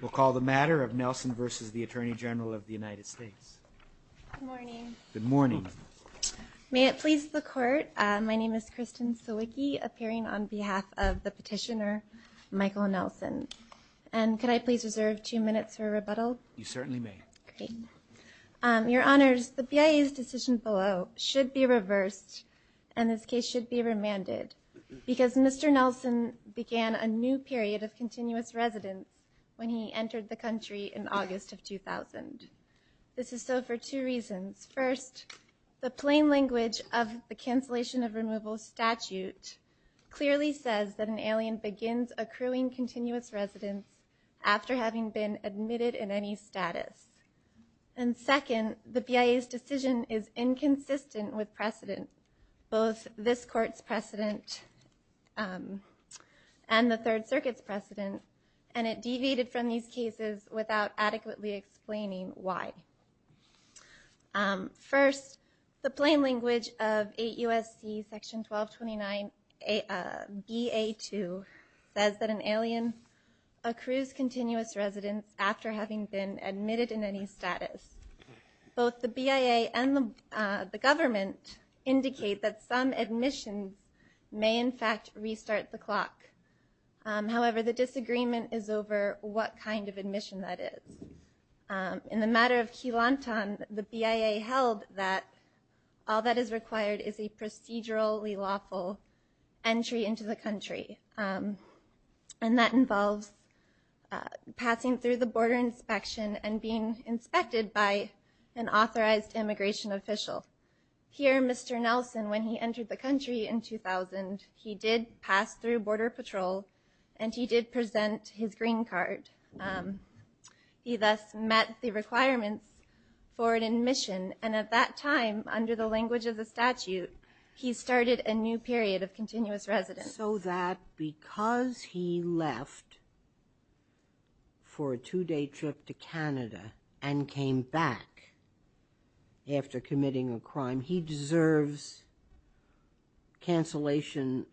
We'll call the matter of Nelson vs. the Attorney General of the United States. Good morning. Good morning. May it please the Court, my name is Kristin Sawicki, appearing on behalf of the petitioner, Michael Nelson. And could I please reserve two minutes for rebuttal? You certainly may. Great. Your Honors, the BIA's decision below should be reversed, and this case should be remanded, because Mr. Nelson began a new period of continuous residence when he entered the country in August of 2000. This is so for two reasons. First, the plain language of the cancellation of removal statute clearly says that an alien begins accruing continuous residence after having been admitted in any status. And second, the BIA's decision is inconsistent with precedent, both this Court's precedent and the Third Circuit's precedent, and it deviated from these cases without adequately explaining why. First, the plain language of 8 U.S.C. section 1229 B.A. 2 says that an alien accrues continuous residence after having been admitted in any status. Both the BIA and the government indicate that some admissions may in fact restart the clock. However, the disagreement is over what kind of admission that is. In the matter of Key Lantan, the BIA held that all that is required is a procedurally lawful entry into the country, and that involves passing through the border inspection and being inspected by an authorized immigration official. Here, Mr. Nelson, when he entered the country in 2000, he did pass through border patrol and he did present his green card. He thus met the requirements for an admission, and at that time, under the language of the statute, he started a new period of continuous residence. So that because he left for a two-day trip to Canada and came back after committing a crime, he deserves cancellation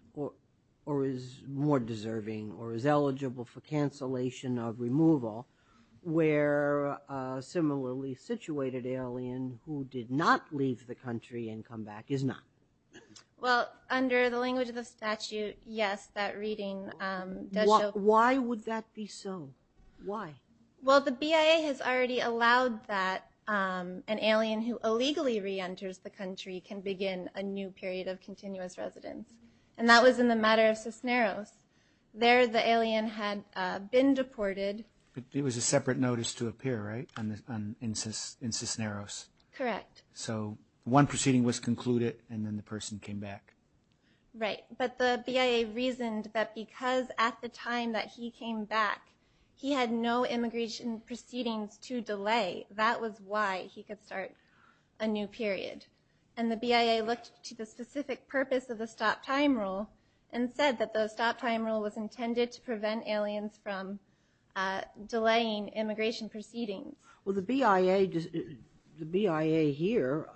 or is more deserving or is eligible for cancellation of removal, where a similarly situated alien who did not leave the country and come back is not. Well, under the language of the statute, yes, that reading does show... Why would that be so? Why? Well, the BIA has already allowed that an alien who illegally reenters the country can begin a new period of continuous residence, and that was in the matter of Cisneros. There, the alien had been deported... It was a separate notice to appear, right, in Cisneros? Correct. So one proceeding was concluded and then the person came back. Right, but the BIA reasoned that because at the time that he came back, he had no immigration proceedings to delay, that was why he could start a new period. And the BIA looked to the specific purpose of the stop-time rule and said that the stop-time rule was intended to prevent aliens from delaying immigration proceedings. Well, the BIA here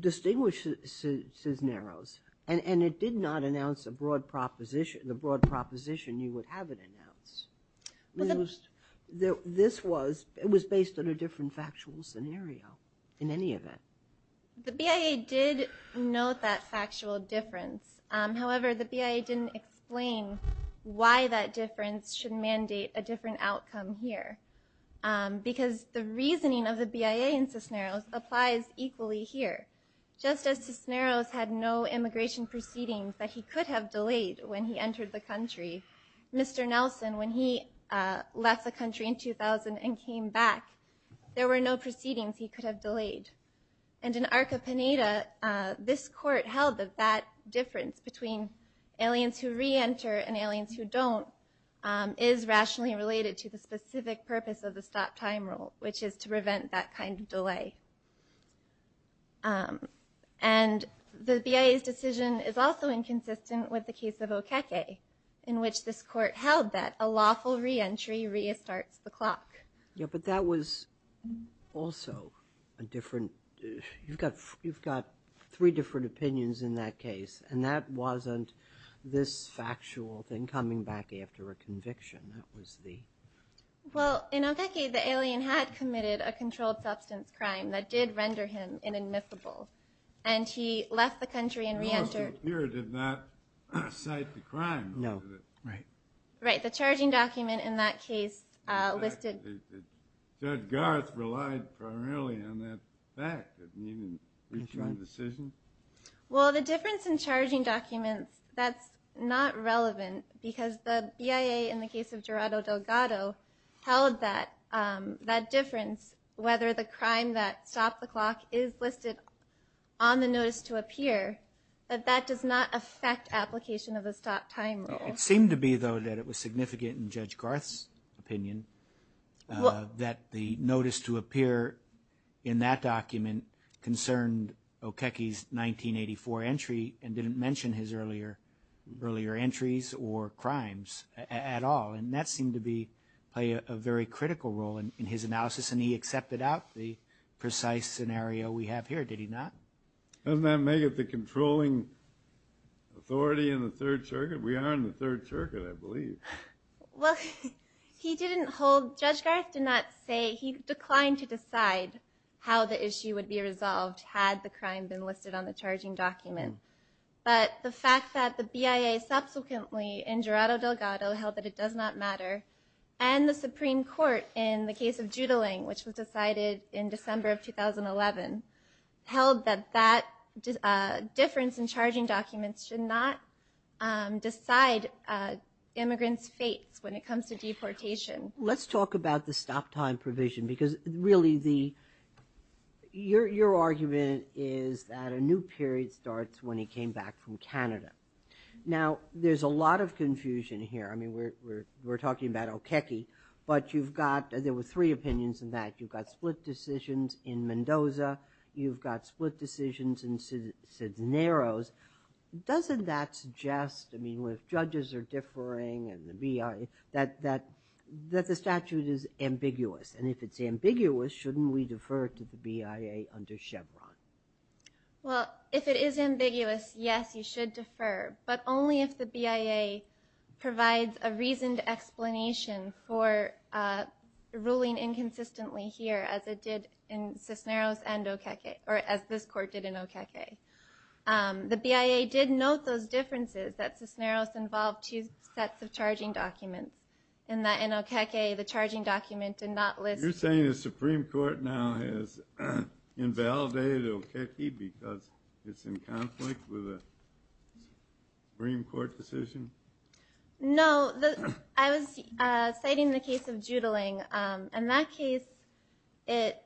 distinguished Cisneros, and it did not announce the broad proposition you would have it announce. It was based on a different factual scenario in any event. The BIA did note that factual difference. However, the BIA didn't explain why that difference should mandate a different outcome here, because the reasoning of the BIA in Cisneros applies equally here. Just as Cisneros had no immigration proceedings that he could have delayed when he entered the country, Mr. Nelson, when he left the country in 2000 and came back, there were no proceedings he could have delayed. And in Arca Pineda, this court held that that difference between aliens who re-enter and aliens who don't is rationally related to the specific purpose of the stop-time rule, which is to prevent that kind of delay. And the BIA's decision is also inconsistent with the case of Okeke, in which this court held that a lawful re-entry restarts the clock. Yeah, but that was also a different... You've got three different opinions in that case, and that wasn't this factual thing coming back after a conviction. That was the... Well, in Okeke, the alien had committed a controlled substance crime that did render him inadmissible, and he left the country and re-entered. Mr. Okeke did not cite the crime, did he? No. Right. The charging document in that case listed... Judge Garth relied primarily on that fact, it didn't even reach my decision. Well, the difference in charging documents, that's not relevant, because the BIA, in the case of Gerardo Delgado, held that difference, whether the crime that stopped the clock is listed on the notice to appear, that that does not affect application of the stop-time rule. It seemed to be, though, that it was significant in Judge Garth's opinion that the notice to appear in that document concerned Okeke's 1984 entry and didn't mention his earlier entries or crimes at all, and that seemed to play a very critical role in his analysis, and he accepted out the precise scenario we have here, did he not? Doesn't that make it the controlling authority in the Third Circuit? We are in the Third Circuit, I believe. Well, he didn't hold... Judge Garth did not say... He declined to decide how the issue would be resolved had the crime been listed on the charging document, but the fact that the BIA subsequently, in Gerardo Delgado, held that it does not matter, and the Supreme Court, in the case of Judling, which was decided in December of 2011, held that that difference in charging documents should not decide immigrants' fates when it comes to deportation. Let's talk about the stop-time provision because, really, your argument is that a new period starts when he came back from Canada. Now, there's a lot of confusion here. I mean, we're talking about Okeke, but you've got... there were three opinions in that. You've got split decisions in Mendoza. You've got split decisions in Cisneros. Doesn't that suggest... I mean, if judges are differing and the BIA... that the statute is ambiguous, and if it's ambiguous, shouldn't we defer to the BIA under Chevron? Well, if it is ambiguous, yes, you should defer, but only if the BIA provides a reasoned explanation for ruling inconsistently here, as it did in Cisneros and Okeke, or as this Court did in Okeke. The BIA did note those differences, that Cisneros involved two sets of charging documents, and that in Okeke, the charging document did not list... You're saying the Supreme Court now has invalidated Okeke because it's in conflict with a Supreme Court decision? No, I was citing the case of Judeling. In that case, it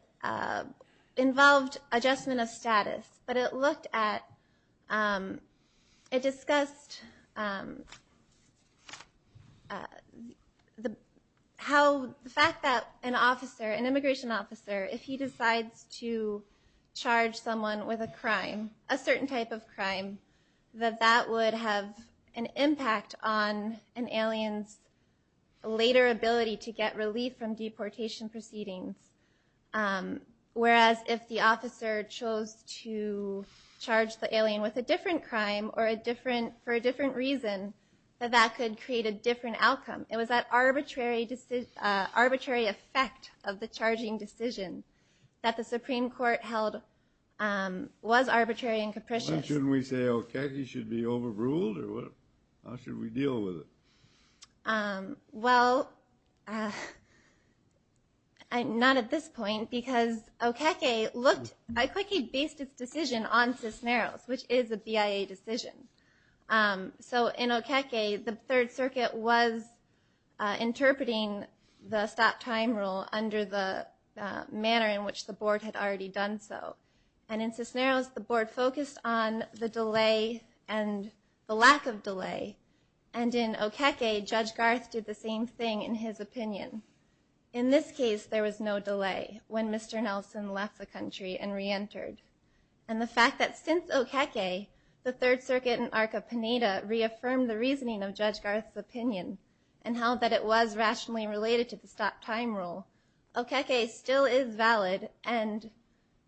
involved adjustment of status, but it looked at... It discussed... the fact that an immigration officer, if he decides to charge someone with a crime, a certain type of crime, that that would have an impact on an alien's later ability to get relief from deportation proceedings, whereas if the officer chose to charge the alien with a different crime for a different reason, that that could create a different outcome. It was that arbitrary effect of the charging decision that the Supreme Court held was arbitrary and capricious. Why shouldn't we say Okeke should be overruled? How should we deal with it? Well, not at this point, because Okeke looked... Okeke based its decision on Cisneros, which is a BIA decision. So in Okeke, the Third Circuit was interpreting the stop-time rule under the manner in which the board had already done so, and in Cisneros, the board focused on the delay and the lack of delay, and in Okeke, Judge Garth did the same thing in his opinion. In this case, there was no delay when Mr. Nelson left the country and re-entered. And the fact that since Okeke, the Third Circuit and Arca Pineda reaffirmed the reasoning of Judge Garth's opinion and how that it was rationally related to the stop-time rule, Okeke still is valid, and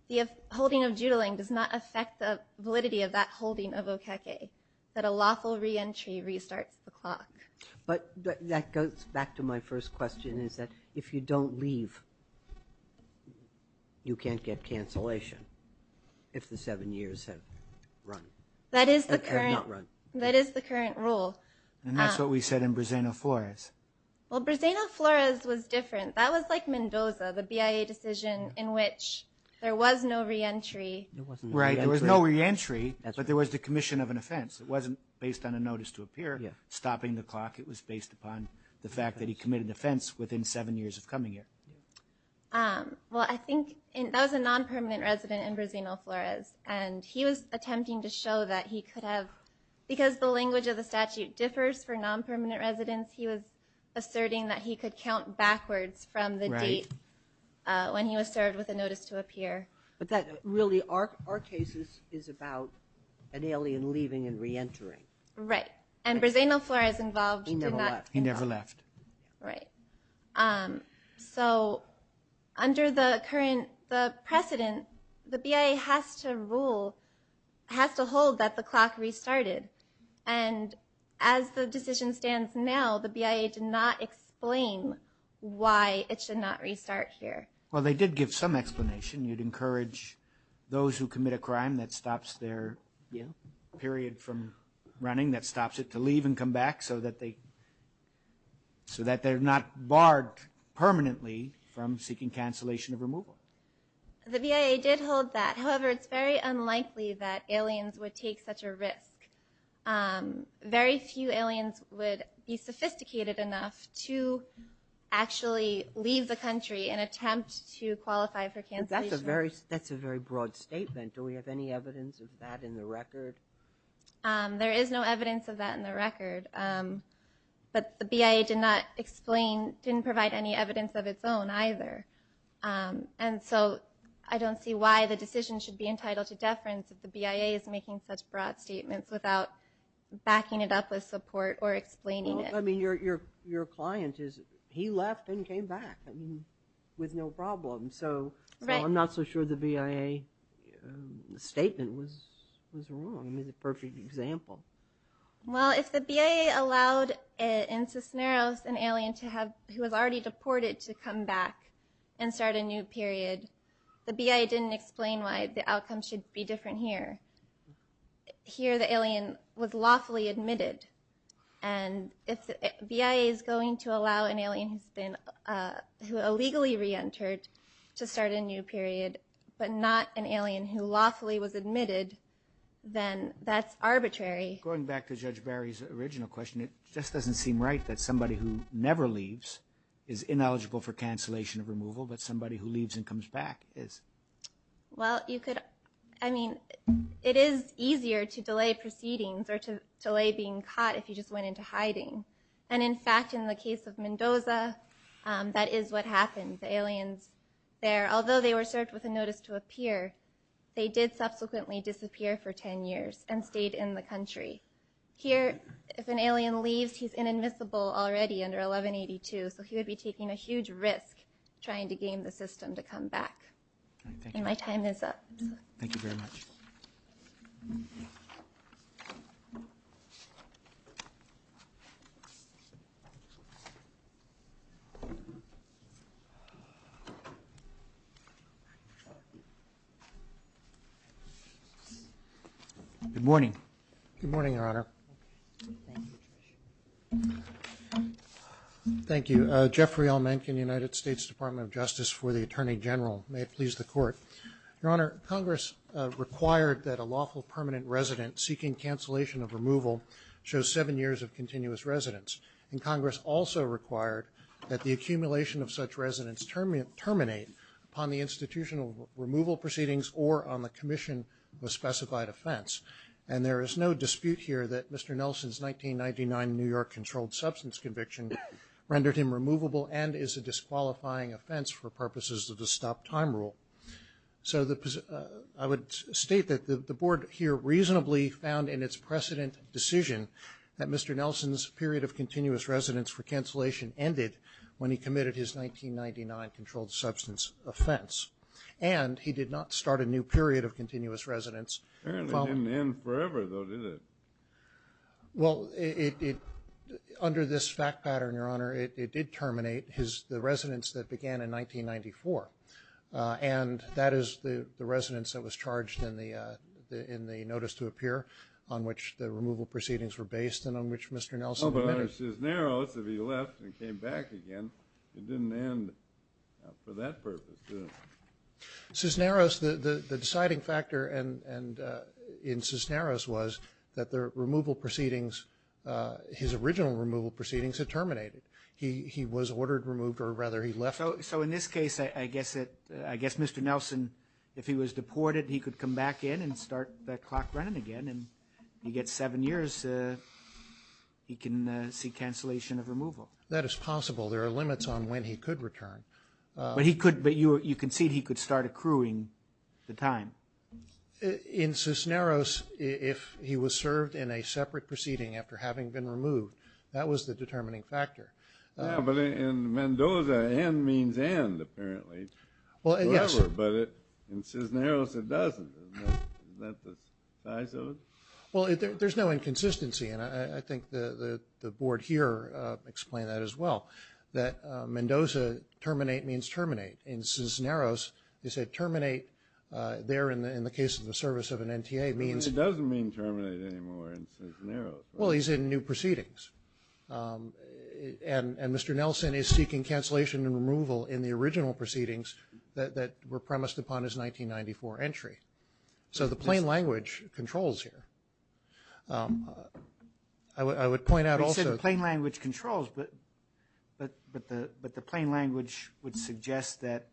the holding of doodling does not affect the validity of that holding of Okeke, that a lawful re-entry restarts the clock. But that goes back to my first question, is that if you don't leave, you can't get cancellation, if the seven years have run. That is the current rule. And that's what we said in Brezeno-Flores. Well, Brezeno-Flores was different. That was like Mendoza, the BIA decision in which there was no re-entry. Right, there was no re-entry, but there was the commission of an offense. It wasn't based on a notice to appear stopping the clock. It was based upon the fact that he committed an offense within seven years of coming here. Well, I think that was a non-permanent resident in Brezeno-Flores, and he was attempting to show that he could have, because the language of the statute differs for non-permanent residents, he was asserting that he could count backwards from the date when he was served with a notice to appear. But that really, our case is about an alien leaving and re-entering. Right. And Brezeno-Flores involved did not... He never left. He never left. Right. So, under the current, the precedent, the BIA has to rule, has to hold that the clock restarted. And as the decision stands now, the BIA did not explain why it should not restart here. Well, they did give some explanation. You'd encourage those who commit a crime that stops their period from running, that stops it to leave and come back so that they're not barred permanently from seeking cancellation of removal. The BIA did hold that. However, it's very unlikely that aliens would take such a risk. Very few aliens would be sophisticated enough to actually leave the country and attempt to qualify for cancellation. That's a very broad statement. Do we have any evidence of that in the record? There is no evidence of that in the record. But the BIA did not explain, didn't provide any evidence of its own either. And so I don't see why the decision should be entitled to deference if the BIA is making such broad statements without backing it up with support or explaining it. I mean, your client, he left and came back with no problem. So I'm not so sure the BIA statement was wrong. I mean, it's a perfect example. Well, if the BIA allowed in Cisneros an alien who was already deported to come back and start a new period, the BIA didn't explain why the outcome should be different here. Here the alien was lawfully admitted. And if the BIA is going to allow an alien who illegally reentered to start a new period but not an alien who lawfully was admitted, then that's arbitrary. Going back to Judge Barry's original question, it just doesn't seem right that somebody who never leaves is ineligible for cancellation of removal, but somebody who leaves and comes back is. Well, you could, I mean, it is easier to delay proceedings or delay being caught if you just went into hiding. And, in fact, in the case of Mendoza, that is what happened. The aliens there, although they were served with a notice to appear, they did subsequently disappear for 10 years and stayed in the country. Here, if an alien leaves, he's inadmissible already under 1182, so he would be taking a huge risk trying to gain the system to come back. And my time is up. Thank you very much. Good morning. Good morning, Your Honor. Thank you. Jeffrey L. Mencken, United States Department of Justice for the Attorney General. May it please the Court. Your Honor, Congress required that a lawful permanent resident seeking cancellation of removal show seven years of continuous residence. And Congress also required that the accumulation of such residents terminate upon the institutional removal proceedings or on the commission of a specified offense. And there is no dispute here that Mr. Nelson's 1999 New York controlled substance conviction rendered him removable and is a disqualifying offense for purposes of the stop time rule. So I would state that the Board here reasonably found in its precedent decision that Mr. Nelson's period of continuous residence for cancellation ended when he committed his 1999 controlled substance offense. And he did not start a new period of continuous residence. Apparently it didn't end forever, though, did it? Well, under this fact pattern, Your Honor, it did terminate the residence that began in 1994. And that is the residence that was charged in the notice to appear on which the removal proceedings were based and on which Mr. Nelson committed. Oh, but under Cisneros, if he left and came back again, it didn't end for that purpose, did it? Cisneros, the deciding factor in Cisneros was that the removal proceedings, his original removal proceedings, had terminated. He was ordered removed, or rather he left. So in this case, I guess Mr. Nelson, if he was deported, he could come back in and start that clock running again. And you get seven years, he can see cancellation of removal. That is possible. There are limits on when he could return. But you concede he could start accruing the time. In Cisneros, if he was served in a separate proceeding after having been removed, that was the determining factor. Yeah, but in Mendoza, end means end, apparently. Well, yes. But in Cisneros, it doesn't. Isn't that the size of it? Well, there's no inconsistency. And I think the Board here explained that as well, that Mendoza terminate means terminate. In Cisneros, they said terminate there in the case of the service of an NTA means. It doesn't mean terminate anymore in Cisneros. Well, he's in new proceedings. And Mr. Nelson is seeking cancellation and removal in the original proceedings that were premised upon his 1994 entry. So the plain language controls here. I would point out also. The plain language controls, but the plain language would suggest that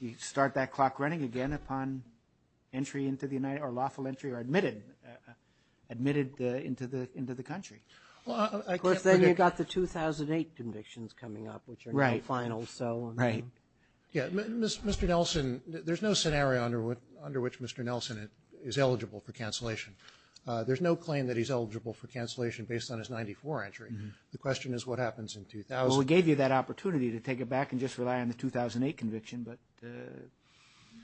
you start that clock running again upon entry into the United States or lawful entry or admitted into the country. Well, I can't predict. Of course, then you've got the 2008 convictions coming up, which are now final. Right. Yeah, Mr. Nelson, there's no scenario under which Mr. Nelson is eligible for cancellation. There's no claim that he's eligible for cancellation based on his 94 entry. The question is what happens in 2000. Well, we gave you that opportunity to take it back and just rely on the 2008 conviction, but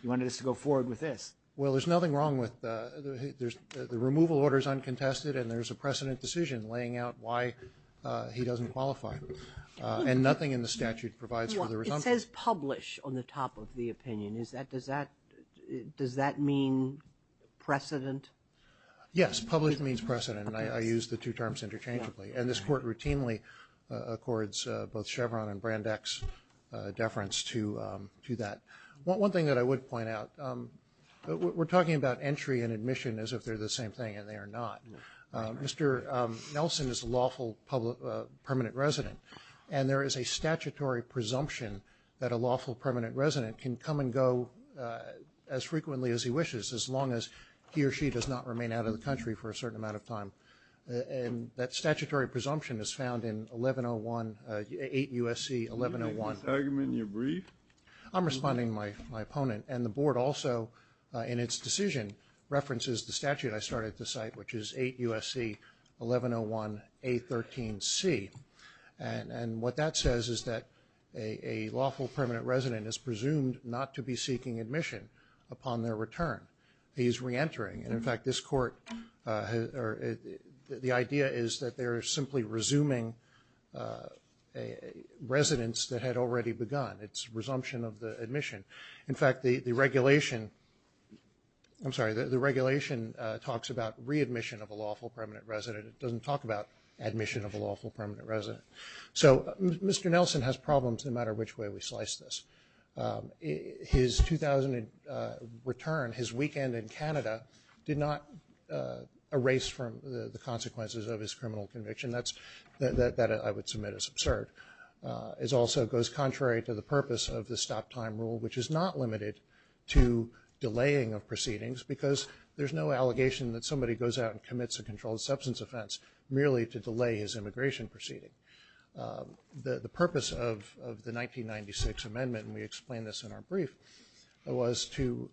you wanted us to go forward with this. Well, there's nothing wrong with the removal order is uncontested and there's a precedent decision laying out why he doesn't qualify. And nothing in the statute provides for the result. It says publish on the top of the opinion. Does that mean precedent? Yes, publish means precedent, and I use the two terms interchangeably. And this court routinely accords both Chevron and Brandeis deference to that. One thing that I would point out, we're talking about entry and admission as if they're the same thing, and they are not. Mr. Nelson is a lawful permanent resident, and there is a statutory presumption that a lawful permanent resident can come and go as frequently as he wishes, as long as he or she does not remain out of the country for a certain amount of time. And that statutory presumption is found in 8 U.S.C. 1101. Are you making this argument in your brief? I'm responding to my opponent. And the board also, in its decision, references the statute I started to cite, which is 8 U.S.C. 1101. A13C. And what that says is that a lawful permanent resident is presumed not to be seeking admission upon their return. He's reentering. And, in fact, this court, the idea is that they're simply resuming residence that had already begun. It's resumption of the admission. In fact, the regulation talks about readmission of a lawful permanent resident. It doesn't talk about admission of a lawful permanent resident. So Mr. Nelson has problems no matter which way we slice this. His 2000 return, his weekend in Canada, did not erase from the consequences of his criminal conviction. That, I would submit, is absurd. It also goes contrary to the purpose of the stop time rule, which is not limited to delaying of proceedings, because there's no allegation that somebody goes out and commits a controlled substance offense merely to delay his immigration proceeding. The purpose of the 1996 amendment, and we explain this in our brief, was to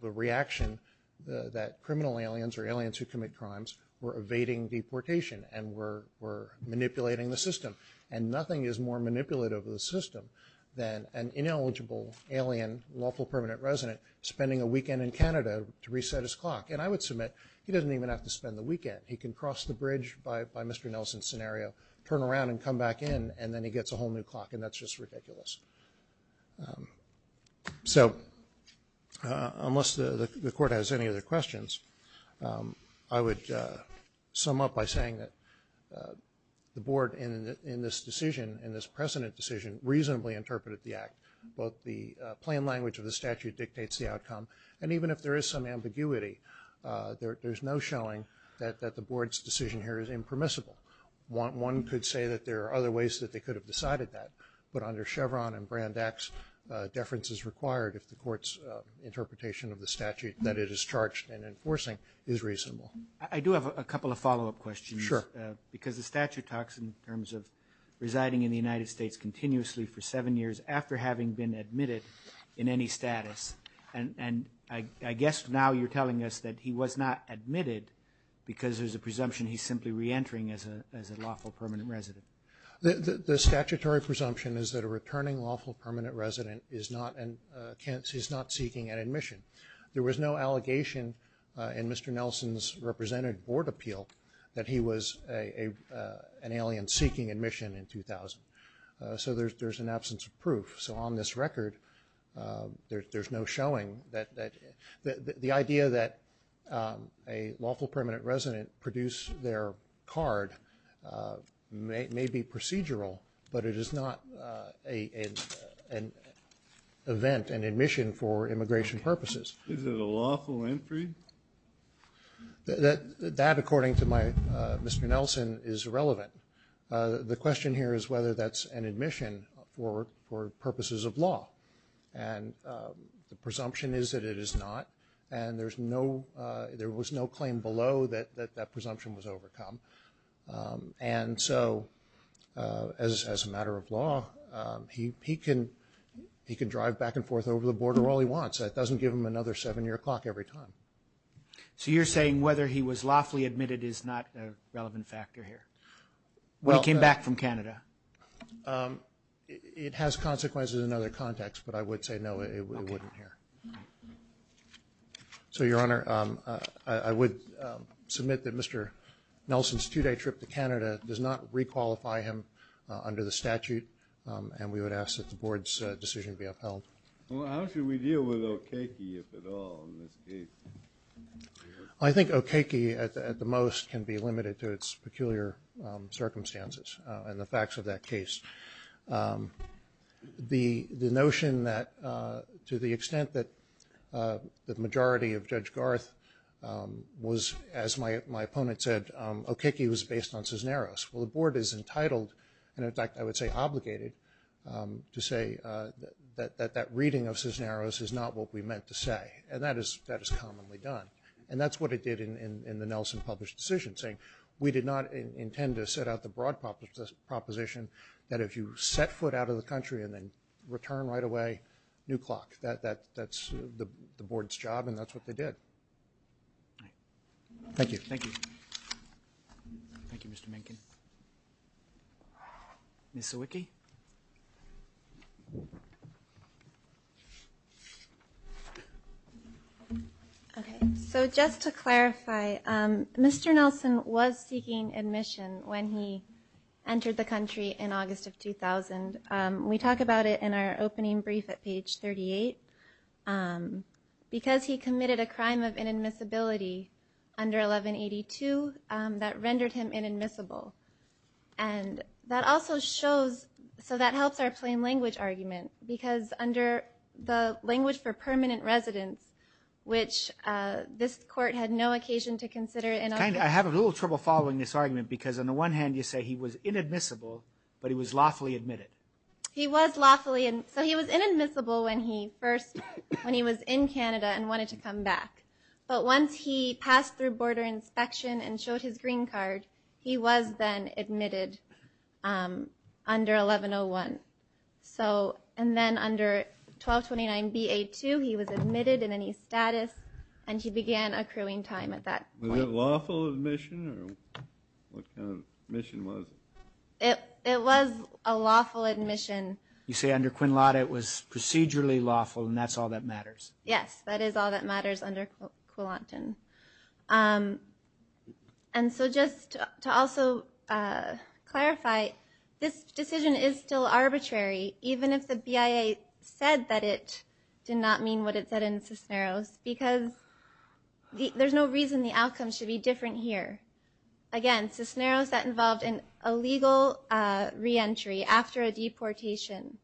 the reaction that criminal aliens or aliens who commit crimes were evading deportation and were manipulating the system. And nothing is more manipulative of the system than an ineligible alien lawful permanent resident spending a weekend in Canada to reset his clock. And I would submit he doesn't even have to spend the weekend. He can cross the bridge by Mr. Nelson's scenario, turn around and come back in, and then he gets a whole new clock, and that's just ridiculous. So unless the court has any other questions, I would sum up by saying that the board in this decision, in this precedent decision, reasonably interpreted the act. Both the plain language of the statute dictates the outcome, and even if there is some ambiguity, there's no showing that the board's decision here is impermissible. One could say that there are other ways that they could have decided that, but under Chevron and Brandax, deference is required if the court's interpretation of the statute that it is charged in enforcing is reasonable. I do have a couple of follow-up questions. Sure. Because the statute talks in terms of residing in the United States continuously for seven years after having been admitted in any status, and I guess now you're telling us that he was not admitted because there's a presumption he's simply reentering as a lawful permanent resident. The statutory presumption is that a returning lawful permanent resident is not seeking an admission. There was no allegation in Mr. Nelson's represented board appeal that he was an alien seeking admission in 2000. So there's an absence of proof. So on this record, there's no showing that the idea that a lawful permanent resident produce their card may be procedural, but it is not an event, an admission for immigration purposes. Is it a lawful entry? That, according to my Mr. Nelson, is irrelevant. The question here is whether that's an admission for purposes of law. And the presumption is that it is not, and there was no claim below that that presumption was overcome. And so as a matter of law, he can drive back and forth over the border all he wants. That doesn't give him another seven-year clock every time. So you're saying whether he was lawfully admitted is not a relevant factor here. When he came back from Canada. It has consequences in other contexts, but I would say no, it wouldn't here. So, Your Honor, I would submit that Mr. Nelson's two-day trip to Canada does not requalify him under the statute, and we would ask that the board's decision be upheld. Well, how should we deal with Okeke, if at all, in this case? I think Okeke, at the most, can be limited to its peculiar circumstances and the facts of that case. The notion that, to the extent that the majority of Judge Garth was, as my opponent said, Okeke was based on Cisneros. Well, the board is entitled, and in fact I would say obligated, to say that that reading of Cisneros is not what we meant to say. And that is commonly done. And that's what it did in the Nelson published decision, saying we did not intend to set out the broad proposition that if you set foot out of the country and then return right away, new clock. That's the board's job, and that's what they did. Thank you. Thank you. Thank you, Mr. Mencken. Ms. Sawicki? Okay. So just to clarify, Mr. Nelson was seeking admission when he entered the country in August of 2000. We talk about it in our opening brief at page 38. Because he committed a crime of inadmissibility under 1182, that rendered him inadmissible. And that also shows, so that helps our plain language argument, because under the language for permanent residence, which this court had no occasion to consider in August. I have a little trouble following this argument, because on the one hand you say he was inadmissible, but he was lawfully admitted. He was lawfully, so he was inadmissible when he first, when he was in Canada and wanted to come back. But once he passed through border inspection and showed his green card, he was then admitted under 1101. So, and then under 1229BA2, he was admitted in any status, and he began accruing time at that point. Was it lawful admission, or what kind of admission was it? It was a lawful admission. You say under Quinlada it was procedurally lawful, and that's all that matters? Yes, that is all that matters under Quilontan. And so just to also clarify, this decision is still arbitrary, even if the BIA said that it did not mean what it said in Cisneros, because there's no reason the outcome should be different here. Again, Cisneros, that involved an illegal reentry after a deportation.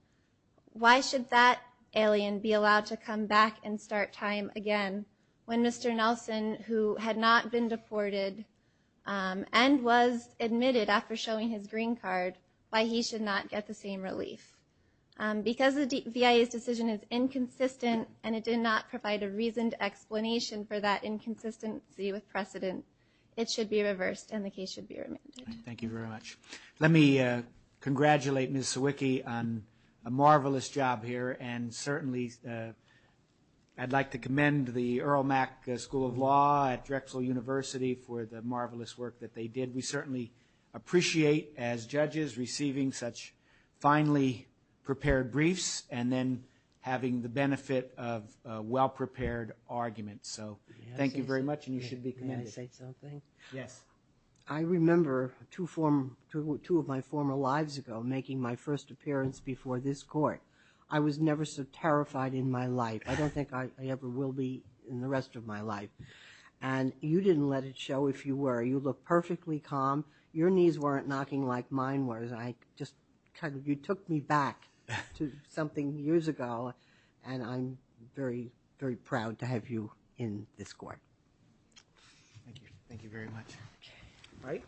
Why should that alien be allowed to come back and start time again when Mr. Nelson, who had not been deported and was admitted after showing his green card, why he should not get the same relief? Because the BIA's decision is inconsistent, and it did not provide a reasoned explanation for that inconsistency with precedent, it should be reversed and the case should be remanded. Thank you very much. Let me congratulate Ms. Sawicki on a marvelous job here, and certainly I'd like to commend the Earl Mack School of Law at Drexel University for the marvelous work that they did. We certainly appreciate, as judges, receiving such finely prepared briefs and then having the benefit of well-prepared arguments. So thank you very much, and you should be commended. May I say something? Yes. I remember two of my former lives ago making my first appearance before this court. I was never so terrified in my life. I don't think I ever will be in the rest of my life. And you didn't let it show, if you were. You looked perfectly calm. Your knees weren't knocking like mine were. You took me back to something years ago, and I'm very, very proud to have you in this court. Thank you. Thank you very much. All right.